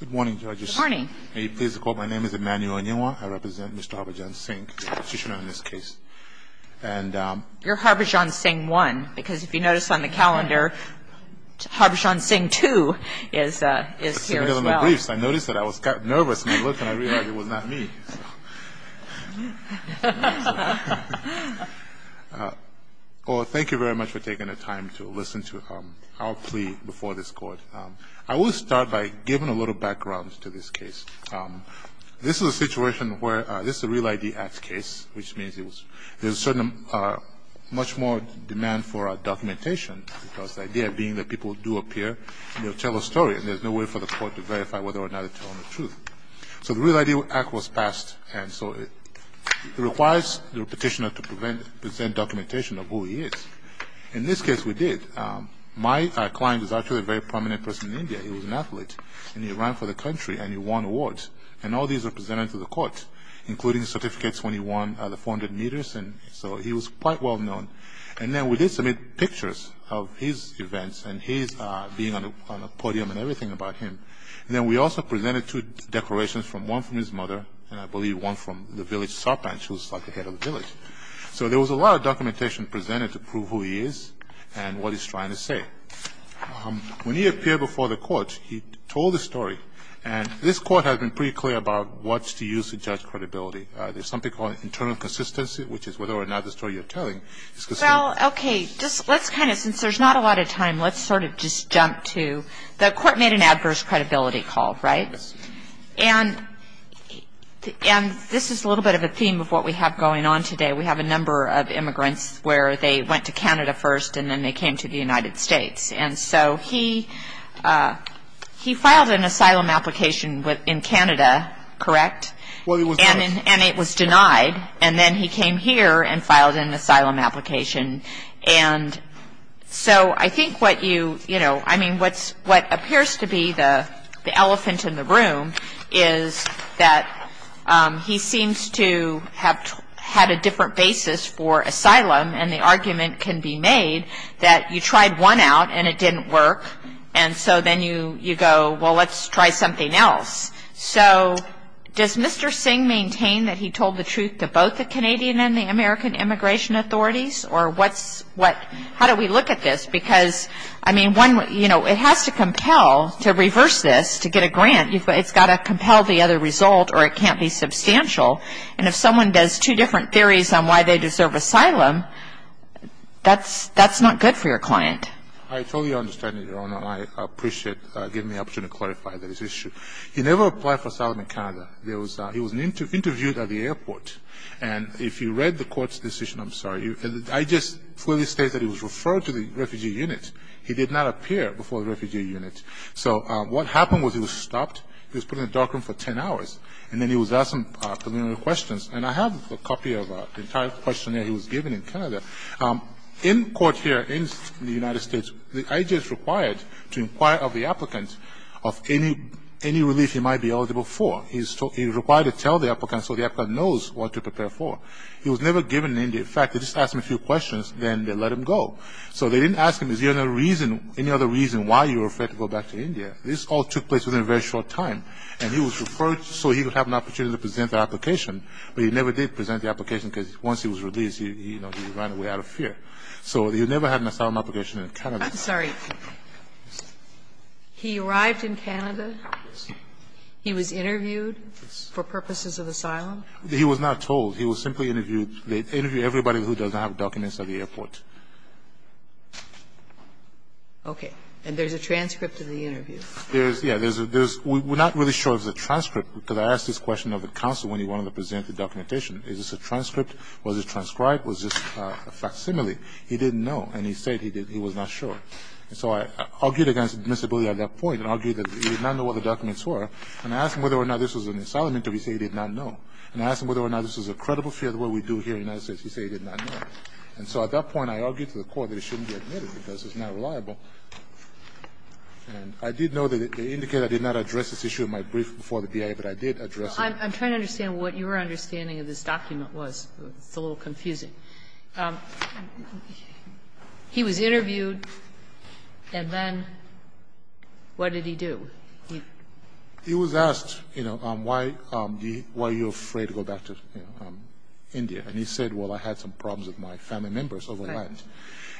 Good morning, judges. Good morning. May you please recall my name is Emmanuel Onyewa. I represent Mr. Harbhajan Singh, the petitioner in this case. And... You're Harbhajan Singh 1, because if you notice on the calendar, Harbhajan Singh 2 is here as well. I noticed that. I was nervous when I looked and I realized it was not me. Well, thank you very much for taking the time to listen to our plea before this Court. I will start by giving a little background to this case. This is a situation where this is a Real I.D. Act case, which means there's much more demand for documentation, because the idea being that people do appear, they'll tell a story, and there's no way for the Court to verify whether or not they're telling the truth. So the Real I.D. Act was passed, and so it requires the petitioner to present documentation of who he is. In this case, we did. My client is actually a very prominent person in India. He was an athlete, and he ran for the country, and he won awards. And all these were presented to the Court, including certificates when he won the 400 meters. So he was quite well-known. And then we did submit pictures of his events and his being on a podium and everything about him. And then we also presented two declarations, one from his mother, and I believe one from the village sarpanch, who's like the head of the village. So there was a lot of documentation presented to prove who he is and what he's trying to say. When he appeared before the Court, he told the story. And this Court has been pretty clear about what to use to judge credibility. There's something called internal consistency, which is whether or not the story you're telling is consistent. Well, okay. Let's kind of, since there's not a lot of time, let's sort of just jump to the Court made an adverse credibility call, right? Yes. And this is a little bit of a theme of what we have going on today. We have a number of immigrants where they went to Canada first, and then they came to the United States. And so he filed an asylum application in Canada, correct? Well, he was denied. And it was denied. And then he came here and filed an asylum application. And so I think what you, you know, I mean, what appears to be the elephant in the room is that he seems to have had a different basis for asylum, and the argument can be made that you tried one out and it didn't work, and so then you go, well, let's try something else. So does Mr. Singh maintain that he told the truth to both the Canadian and the American immigration authorities, or what's what? How do we look at this? Because, I mean, one, you know, it has to compel to reverse this to get a grant. It's got to compel the other result, or it can't be substantial. And if someone does two different theories on why they deserve asylum, that's not good for your client. I totally understand it, Your Honor. I appreciate you giving me the opportunity to clarify this issue. He never applied for asylum in Canada. He was interviewed at the airport. And if you read the court's decision, I'm sorry, I just clearly state that he was referred to the refugee unit. He did not appear before the refugee unit. So what happened was he was stopped. He was put in a dark room for 10 hours, and then he was asked some preliminary questions. And I have a copy of an entire questionnaire he was given in Canada. In court here in the United States, the IG is required to inquire of the applicant of any relief he might be eligible for. He's required to tell the applicant so the applicant knows what to prepare for. He was never given in India. In fact, they just asked him a few questions, then they let him go. So they didn't ask him is there any other reason why you were afraid to go back to India. This all took place within a very short time. And he was referred so he could have an opportunity to present the application, but he never did present the application because once he was released, you know, he ran away out of fear. So he never had an asylum application in Canada. Sotomayor, I'm sorry. He arrived in Canada. He was interviewed for purposes of asylum. He was not told. He was simply interviewed. They interview everybody who doesn't have documents at the airport. Okay. And there's a transcript of the interview. There is, yes. We're not really sure if it's a transcript, because I asked this question of the counsel when he wanted to present the documentation. Is this a transcript? Was it transcribed? Was this a facsimile? He didn't know. And he said he did. He was not sure. And so I argued against admissibility at that point and argued that he did not know what the documents were. And I asked him whether or not this was an asylum interview. He said he did not know. And I asked him whether or not this was a credible fear, the way we do here in the United States. He said he did not know. And so at that point, I argued to the Court that it shouldn't be admitted because it's not reliable. And I did know that they indicated I did not address this issue in my brief before the BIA, but I did address it. I'm trying to understand what your understanding of this document was. It's a little confusing. He was interviewed, and then what did he do? He was asked, you know, why are you afraid to go back to India? And he said, well, I had some problems with my family members over there.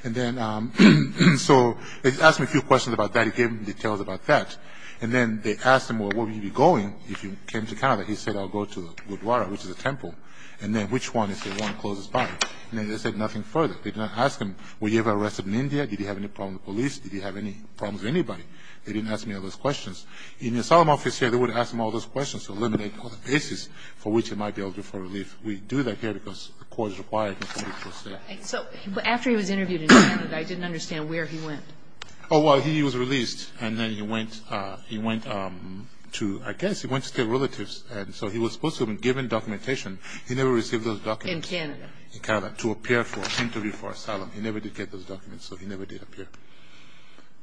And then so they asked me a few questions about that. He gave me details about that. And then they asked him, well, where will you be going if you came to Canada? He said, I'll go to Gurdwara, which is a temple. And then which one? He said, the one closest by. And then they said nothing further. They did not ask him, were you ever arrested in India? Did you have any problems with the police? Did you have any problems with anybody? They didn't ask me all those questions. In the asylum office here, they would ask him all those questions to eliminate all the bases for which he might be able to do for relief. We do that here because the Court is required in 44 states. So after he was interviewed in Canada, I didn't understand where he went. Oh, well, he was released. And then he went to, I guess, he went to stay with relatives. And so he was supposed to have been given documentation. He never received those documents. In Canada. In Canada, to appear for an interview for asylum. He never did get those documents, so he never did appear.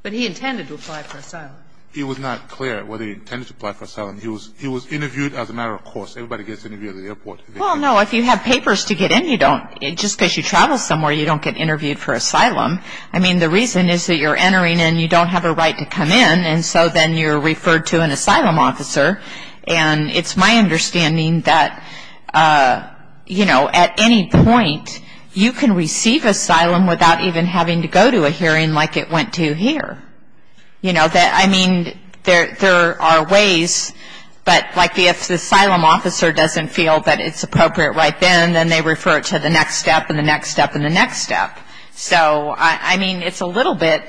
But he intended to apply for asylum. It was not clear whether he intended to apply for asylum. He was interviewed as a matter of course. Everybody gets interviewed at the airport. Well, no, if you have papers to get in, you don't. Just because you travel somewhere, you don't get interviewed for asylum. I mean, the reason is that you're entering and you don't have a right to come in, and so then you're referred to an asylum officer. And it's my understanding that, you know, at any point, you can receive asylum without even having to go to a hearing like it went to here. You know, I mean, there are ways, but like if the asylum officer doesn't feel that it's appropriate right then, then they refer it to the next step and the next step and the next step. So, I mean, it's a little bit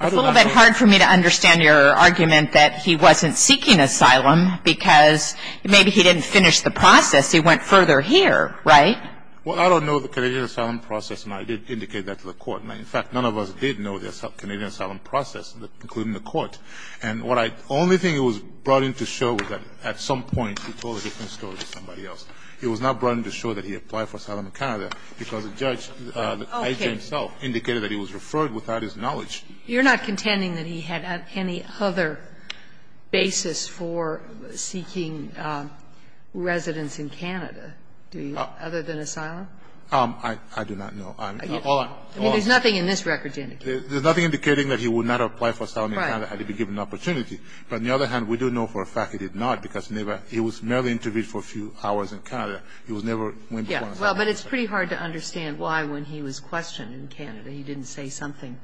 hard for me to understand your argument that he wasn't seeking asylum because maybe he didn't finish the process. He went further here, right? Well, I don't know the Canadian asylum process, and I did indicate that to the Court. In fact, none of us did know the Canadian asylum process, including the Court. And what I only think it was brought in to show was that at some point he told a different story to somebody else. It was not brought in to show that he applied for asylum in Canada because the judge, the judge himself, indicated that he was referred without his knowledge. You're not contending that he had any other basis for seeking residence in Canada, do you, other than asylum? I do not know. Hold on. There's nothing in this record to indicate. There's nothing indicating that he would not apply for asylum in Canada had he been given the opportunity. But on the other hand, we do know for a fact he did not because he was merely interviewed for a few hours in Canada. He never went before an asylum officer. Well, but it's pretty hard to understand why when he was questioned in Canada that he didn't say something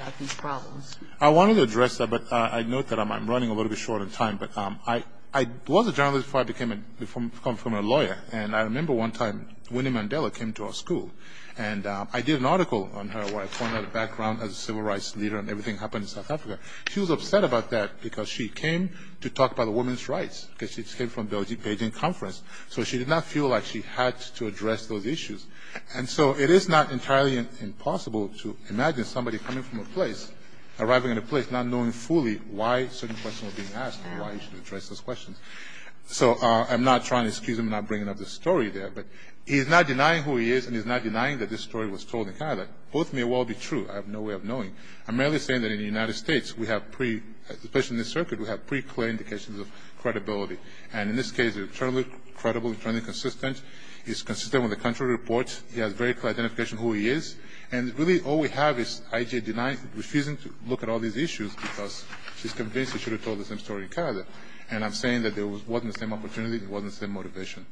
about these problems. I wanted to address that, but I note that I'm running a little bit short on time. But I was a journalist before I became a lawyer. And I remember one time Winnie Mandela came to our school. And I did an article on her where I pointed out her background as a civil rights leader and everything that happened in South Africa. She was upset about that because she came to talk about women's rights because she came from the Beijing conference. So she did not feel like she had to address those issues. And so it is not entirely impossible to imagine somebody coming from a place, arriving at a place not knowing fully why certain questions were being asked and why he should address those questions. So I'm not trying to excuse him not bringing up the story there. But he's not denying who he is and he's not denying that this story was told in Canada. Both may well be true. I have no way of knowing. I'm merely saying that in the United States, we have pre, especially in this circuit, we have pre-claimed indications of credibility. And in this case, it's eternally credible, eternally consistent. It's consistent with the country reports. He has very clear identification of who he is. And really all we have is IJ denying, refusing to look at all these issues because she's convinced he should have told the same story in Canada. And I'm saying that there wasn't the same opportunity. There wasn't the same motivation.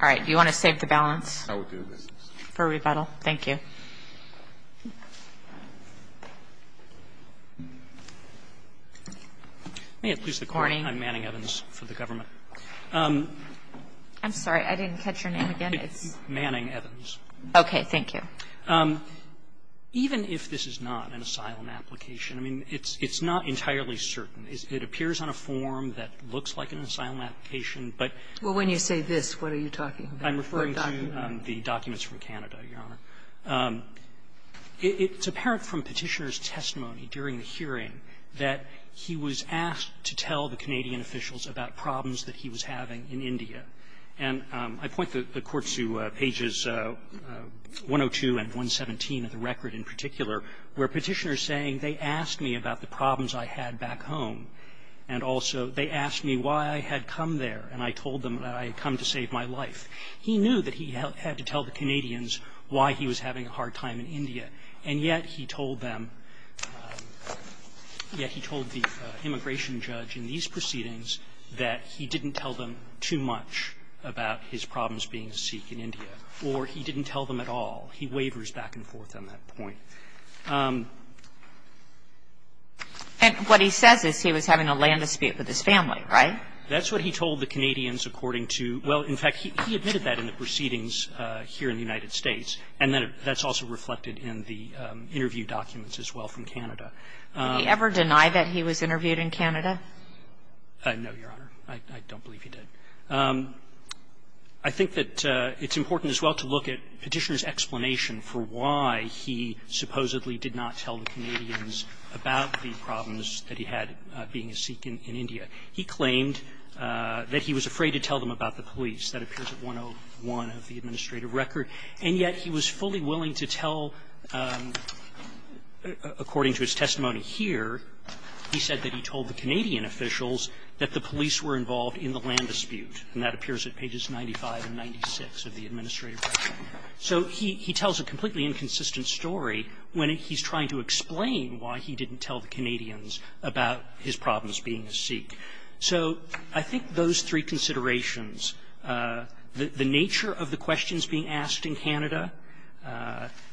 All right. Do you want to save the balance for rebuttal? Thank you. May it please the Court. I'm Manning Evans for the government. I'm sorry. I didn't catch your name again. It's Manning Evans. Okay. Thank you. Even if this is not an asylum application, I mean, it's not entirely certain. It appears on a form that looks like an asylum application. But when you say this, what are you talking about? I'm referring to the documents from Canada, Your Honor. It's apparent from Petitioner's testimony during the hearing that he was asked to tell the Canadian officials about problems that he was having in India. And I point the Court to pages 102 and 117 of the record in particular, where Petitioner is saying, they asked me about the problems I had back home. And also, they asked me why I had come there. And I told them that I had come to save my life. He knew that he had to tell the Canadians why he was having a hard time in India. And yet he told them, yet he told the immigration judge in these proceedings that he didn't tell them too much about his problems being a Sikh in India. Or he didn't tell them at all. He waivers back and forth on that point. And what he says is he was having a land dispute with his family, right? That's what he told the Canadians according to – well, in fact, he admitted that in the proceedings here in the United States. And that's also reflected in the interview documents as well from Canada. Kagan. Would he ever deny that he was interviewed in Canada? No, Your Honor. I don't believe he did. I think that it's important as well to look at Petitioner's explanation for why he supposedly did not tell the Canadians about the problems that he had being a Sikh in India. He claimed that he was afraid to tell them about the police. That appears at 101 of the administrative record. And yet he was fully willing to tell, according to his testimony here, he said that he told the Canadian officials that the police were involved in the land dispute. And that appears at pages 95 and 96 of the administrative record. So he tells a completely inconsistent story when he's trying to explain why he didn't So I think those three considerations, the nature of the questions being asked in Canada,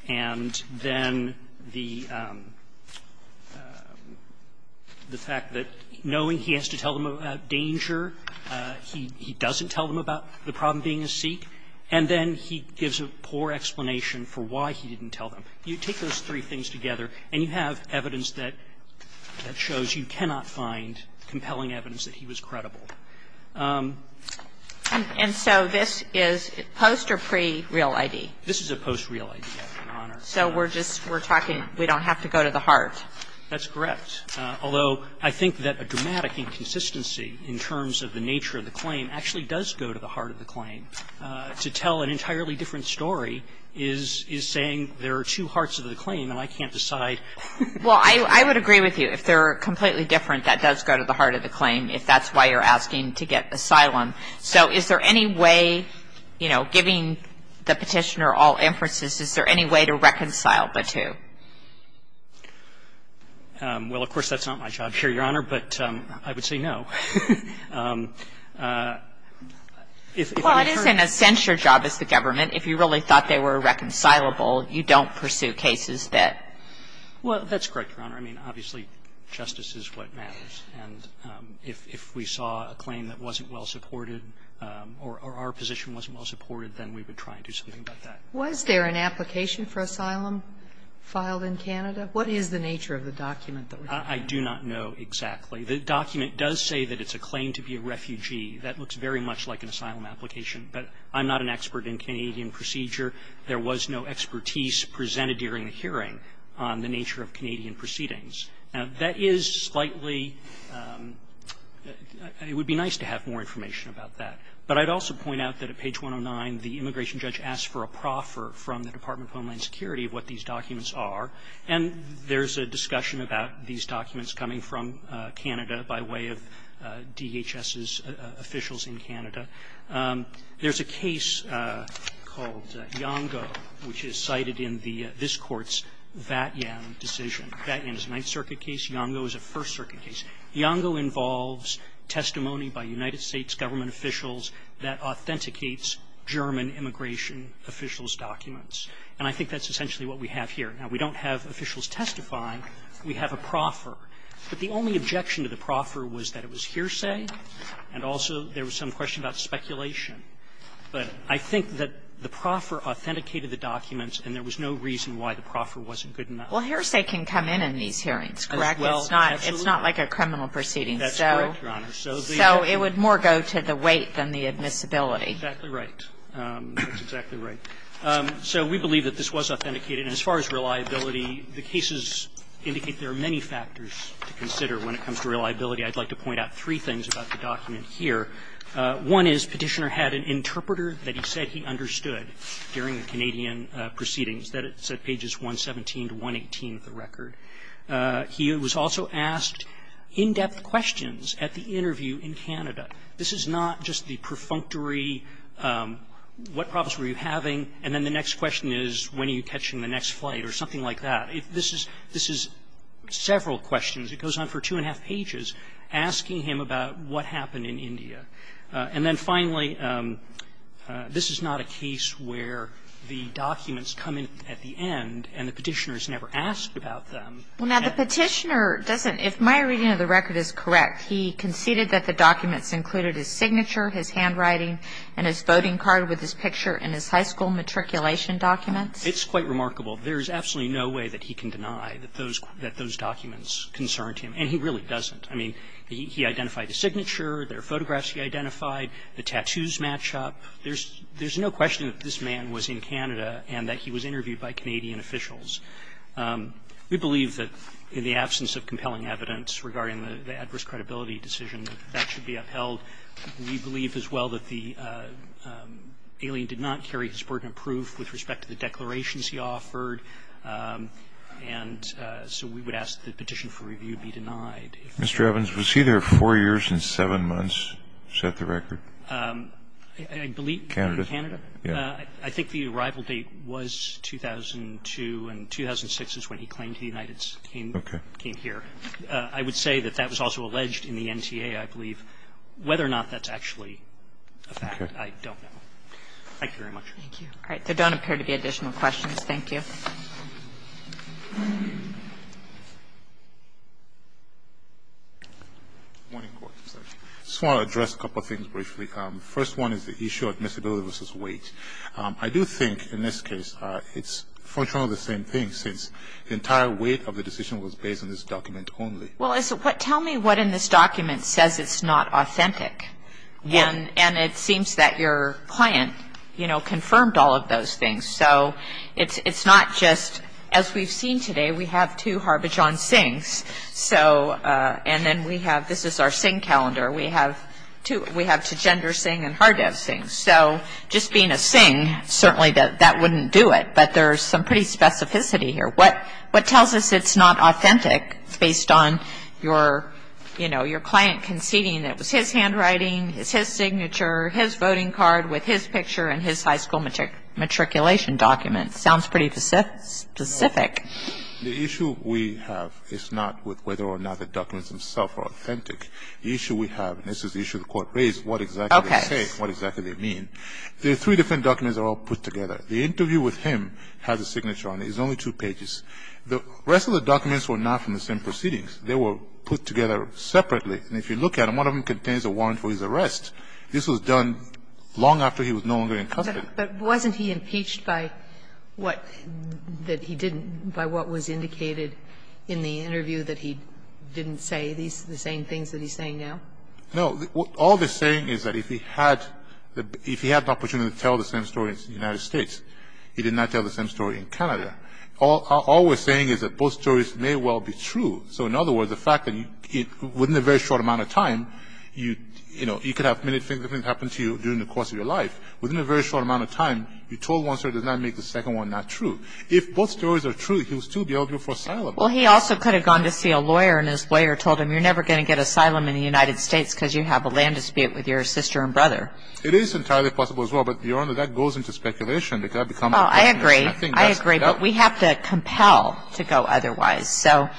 and then the fact that knowing he has to tell them about danger, he doesn't tell them about the problem being a Sikh, and then he gives a poor explanation for why he didn't tell them. You take those three things together, and you have evidence that shows you cannot find compelling evidence that he was credible. And so this is post or pre-real ID? This is a post-real ID, Your Honor. So we're just, we're talking, we don't have to go to the heart? That's correct. Although, I think that a dramatic inconsistency in terms of the nature of the claim actually does go to the heart of the claim. To tell an entirely different story is saying there are two hearts of the claim and I can't decide. Well, I would agree with you. If they're completely different, that does go to the heart of the claim, if that's why you're asking to get asylum. So is there any way, you know, giving the Petitioner all inferences, is there any way to reconcile the two? Well, of course, that's not my job here, Your Honor, but I would say no. Well, it is in a sense your job as the government. If you really thought they were reconcilable, you don't pursue cases that? Well, that's correct, Your Honor. I mean, obviously, justice is what matters. And if we saw a claim that wasn't well supported or our position wasn't well supported, then we would try and do something about that. Was there an application for asylum filed in Canada? What is the nature of the document that was filed? I do not know exactly. The document does say that it's a claim to be a refugee. That looks very much like an asylum application. But I'm not an expert in Canadian procedure. There was no expertise presented during the hearing on the nature of Canadian proceedings. Now, that is slightly – it would be nice to have more information about that. But I'd also point out that at page 109, the immigration judge asked for a proffer from the Department of Homeland Security of what these documents are. And there's a discussion about these documents coming from Canada by way of DHS's officials in Canada. There's a case called Iango, which is cited in this Court's Vatiam decision. Vatiam is a Ninth Circuit case. Iango is a First Circuit case. Iango involves testimony by United States government officials that authenticates German immigration officials' documents. And I think that's essentially what we have here. Now, we don't have officials testify. We have a proffer. But the only objection to the proffer was that it was hearsay. And also there was some question about speculation. But I think that the proffer authenticated the documents, and there was no reason why the proffer wasn't good enough. Well, hearsay can come in in these hearings, correct? It's not like a criminal proceeding. That's correct, Your Honor. So it would more go to the weight than the admissibility. Exactly right. That's exactly right. So we believe that this was authenticated. And as far as reliability, the cases indicate there are many factors to consider when it comes to reliability. I'd like to point out three things about the document here. One is Petitioner had an interpreter that he said he understood during the Canadian proceedings, that's at pages 117 to 118 of the record. He was also asked in-depth questions at the interview in Canada. This is not just the perfunctory, what problems were you having, and then the next question is, when are you catching the next flight or something like that. This is several questions. It goes on for two and a half pages, asking him about what happened in India. And then finally, this is not a case where the documents come in at the end and the Petitioner's never asked about them. Well, now, the Petitioner doesn't. If my reading of the record is correct, he conceded that the documents included his signature, his handwriting, and his voting card with his picture and his high school matriculation documents. It's quite remarkable. There is absolutely no way that he can deny that those documents concerned him, and he really doesn't. I mean, he identified his signature, there are photographs he identified, the tattoos match up. There's no question that this man was in Canada and that he was interviewed by Canadian officials. We believe that in the absence of compelling evidence regarding the adverse credibility decision, that that should be upheld. We believe as well that the alien did not carry his burden of proof with respect to the declarations he offered. And so we would ask that the petition for review be denied. Mr. Evans, was he there four years and seven months to set the record? I believe Canada. Canada. I think the arrival date was 2002, and 2006 is when he claimed he came here. I don't know whether or not that's actually a fact. I don't know. Thank you very much. Thank you. All right. There don't appear to be additional questions. Thank you. I just want to address a couple of things briefly. First one is the issue of admissibility versus weight. I do think in this case it's functionally the same thing, since the entire weight of the decision was based on this document only. Well, tell me what in this document says it's not authentic. And it seems that your client, you know, confirmed all of those things. So it's not just, as we've seen today, we have two Harbhajan Singhs. And then we have, this is our Singh calendar. We have two gender Singh and hard of Singh. So just being a Singh, certainly that wouldn't do it. But there's some pretty specificity here. What tells us it's not authentic based on your, you know, your client conceding that it was his handwriting, it's his signature, his voting card with his picture and his high school matriculation document? Sounds pretty specific. The issue we have is not with whether or not the documents themselves are authentic. The issue we have, and this is the issue the Court raised, what exactly they say, what exactly they mean. The three different documents are all put together. The interview with him has a signature on it. It's only two pages. The rest of the documents were not from the same proceedings. They were put together separately. And if you look at them, one of them contains a warrant for his arrest. This was done long after he was no longer in custody. But wasn't he impeached by what he didn't, by what was indicated in the interview that he didn't say the same things that he's saying now? No. All they're saying is that if he had the opportunity to tell the same story in the United States, he did not tell the same story in Canada. All we're saying is that both stories may well be true. So in other words, the fact that within a very short amount of time, you know, you could have many things that happened to you during the course of your life. Within a very short amount of time, you told one story that does not make the second one not true. If both stories are true, he will still be eligible for asylum. Well, he also could have gone to see a lawyer and his lawyer told him you're never going to get asylum in the United States because you have a land dispute with your sister and brother. It is entirely possible as well. But, Your Honor, that goes into speculation. Oh, I agree. I agree. But we have to compel to go otherwise. I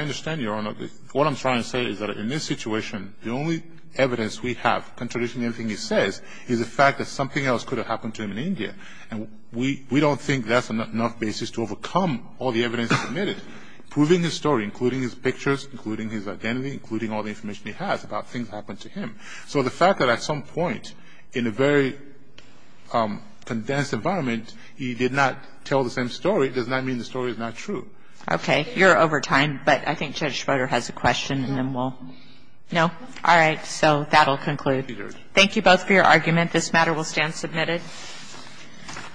understand, Your Honor. What I'm trying to say is that in this situation, the only evidence we have contradicting everything he says is the fact that something else could have happened to him in India. And we don't think that's enough basis to overcome all the evidence submitted, proving his story, including his pictures, including his identity, including all the information he has about things that happened to him. So the fact that at some point in a very condensed environment, he did not tell the same story does not mean the story is not true. Okay. You're over time, but I think Judge Schroeder has a question and then we'll – no? All right. So that will conclude. Thank you both for your argument. This matter will stand submitted.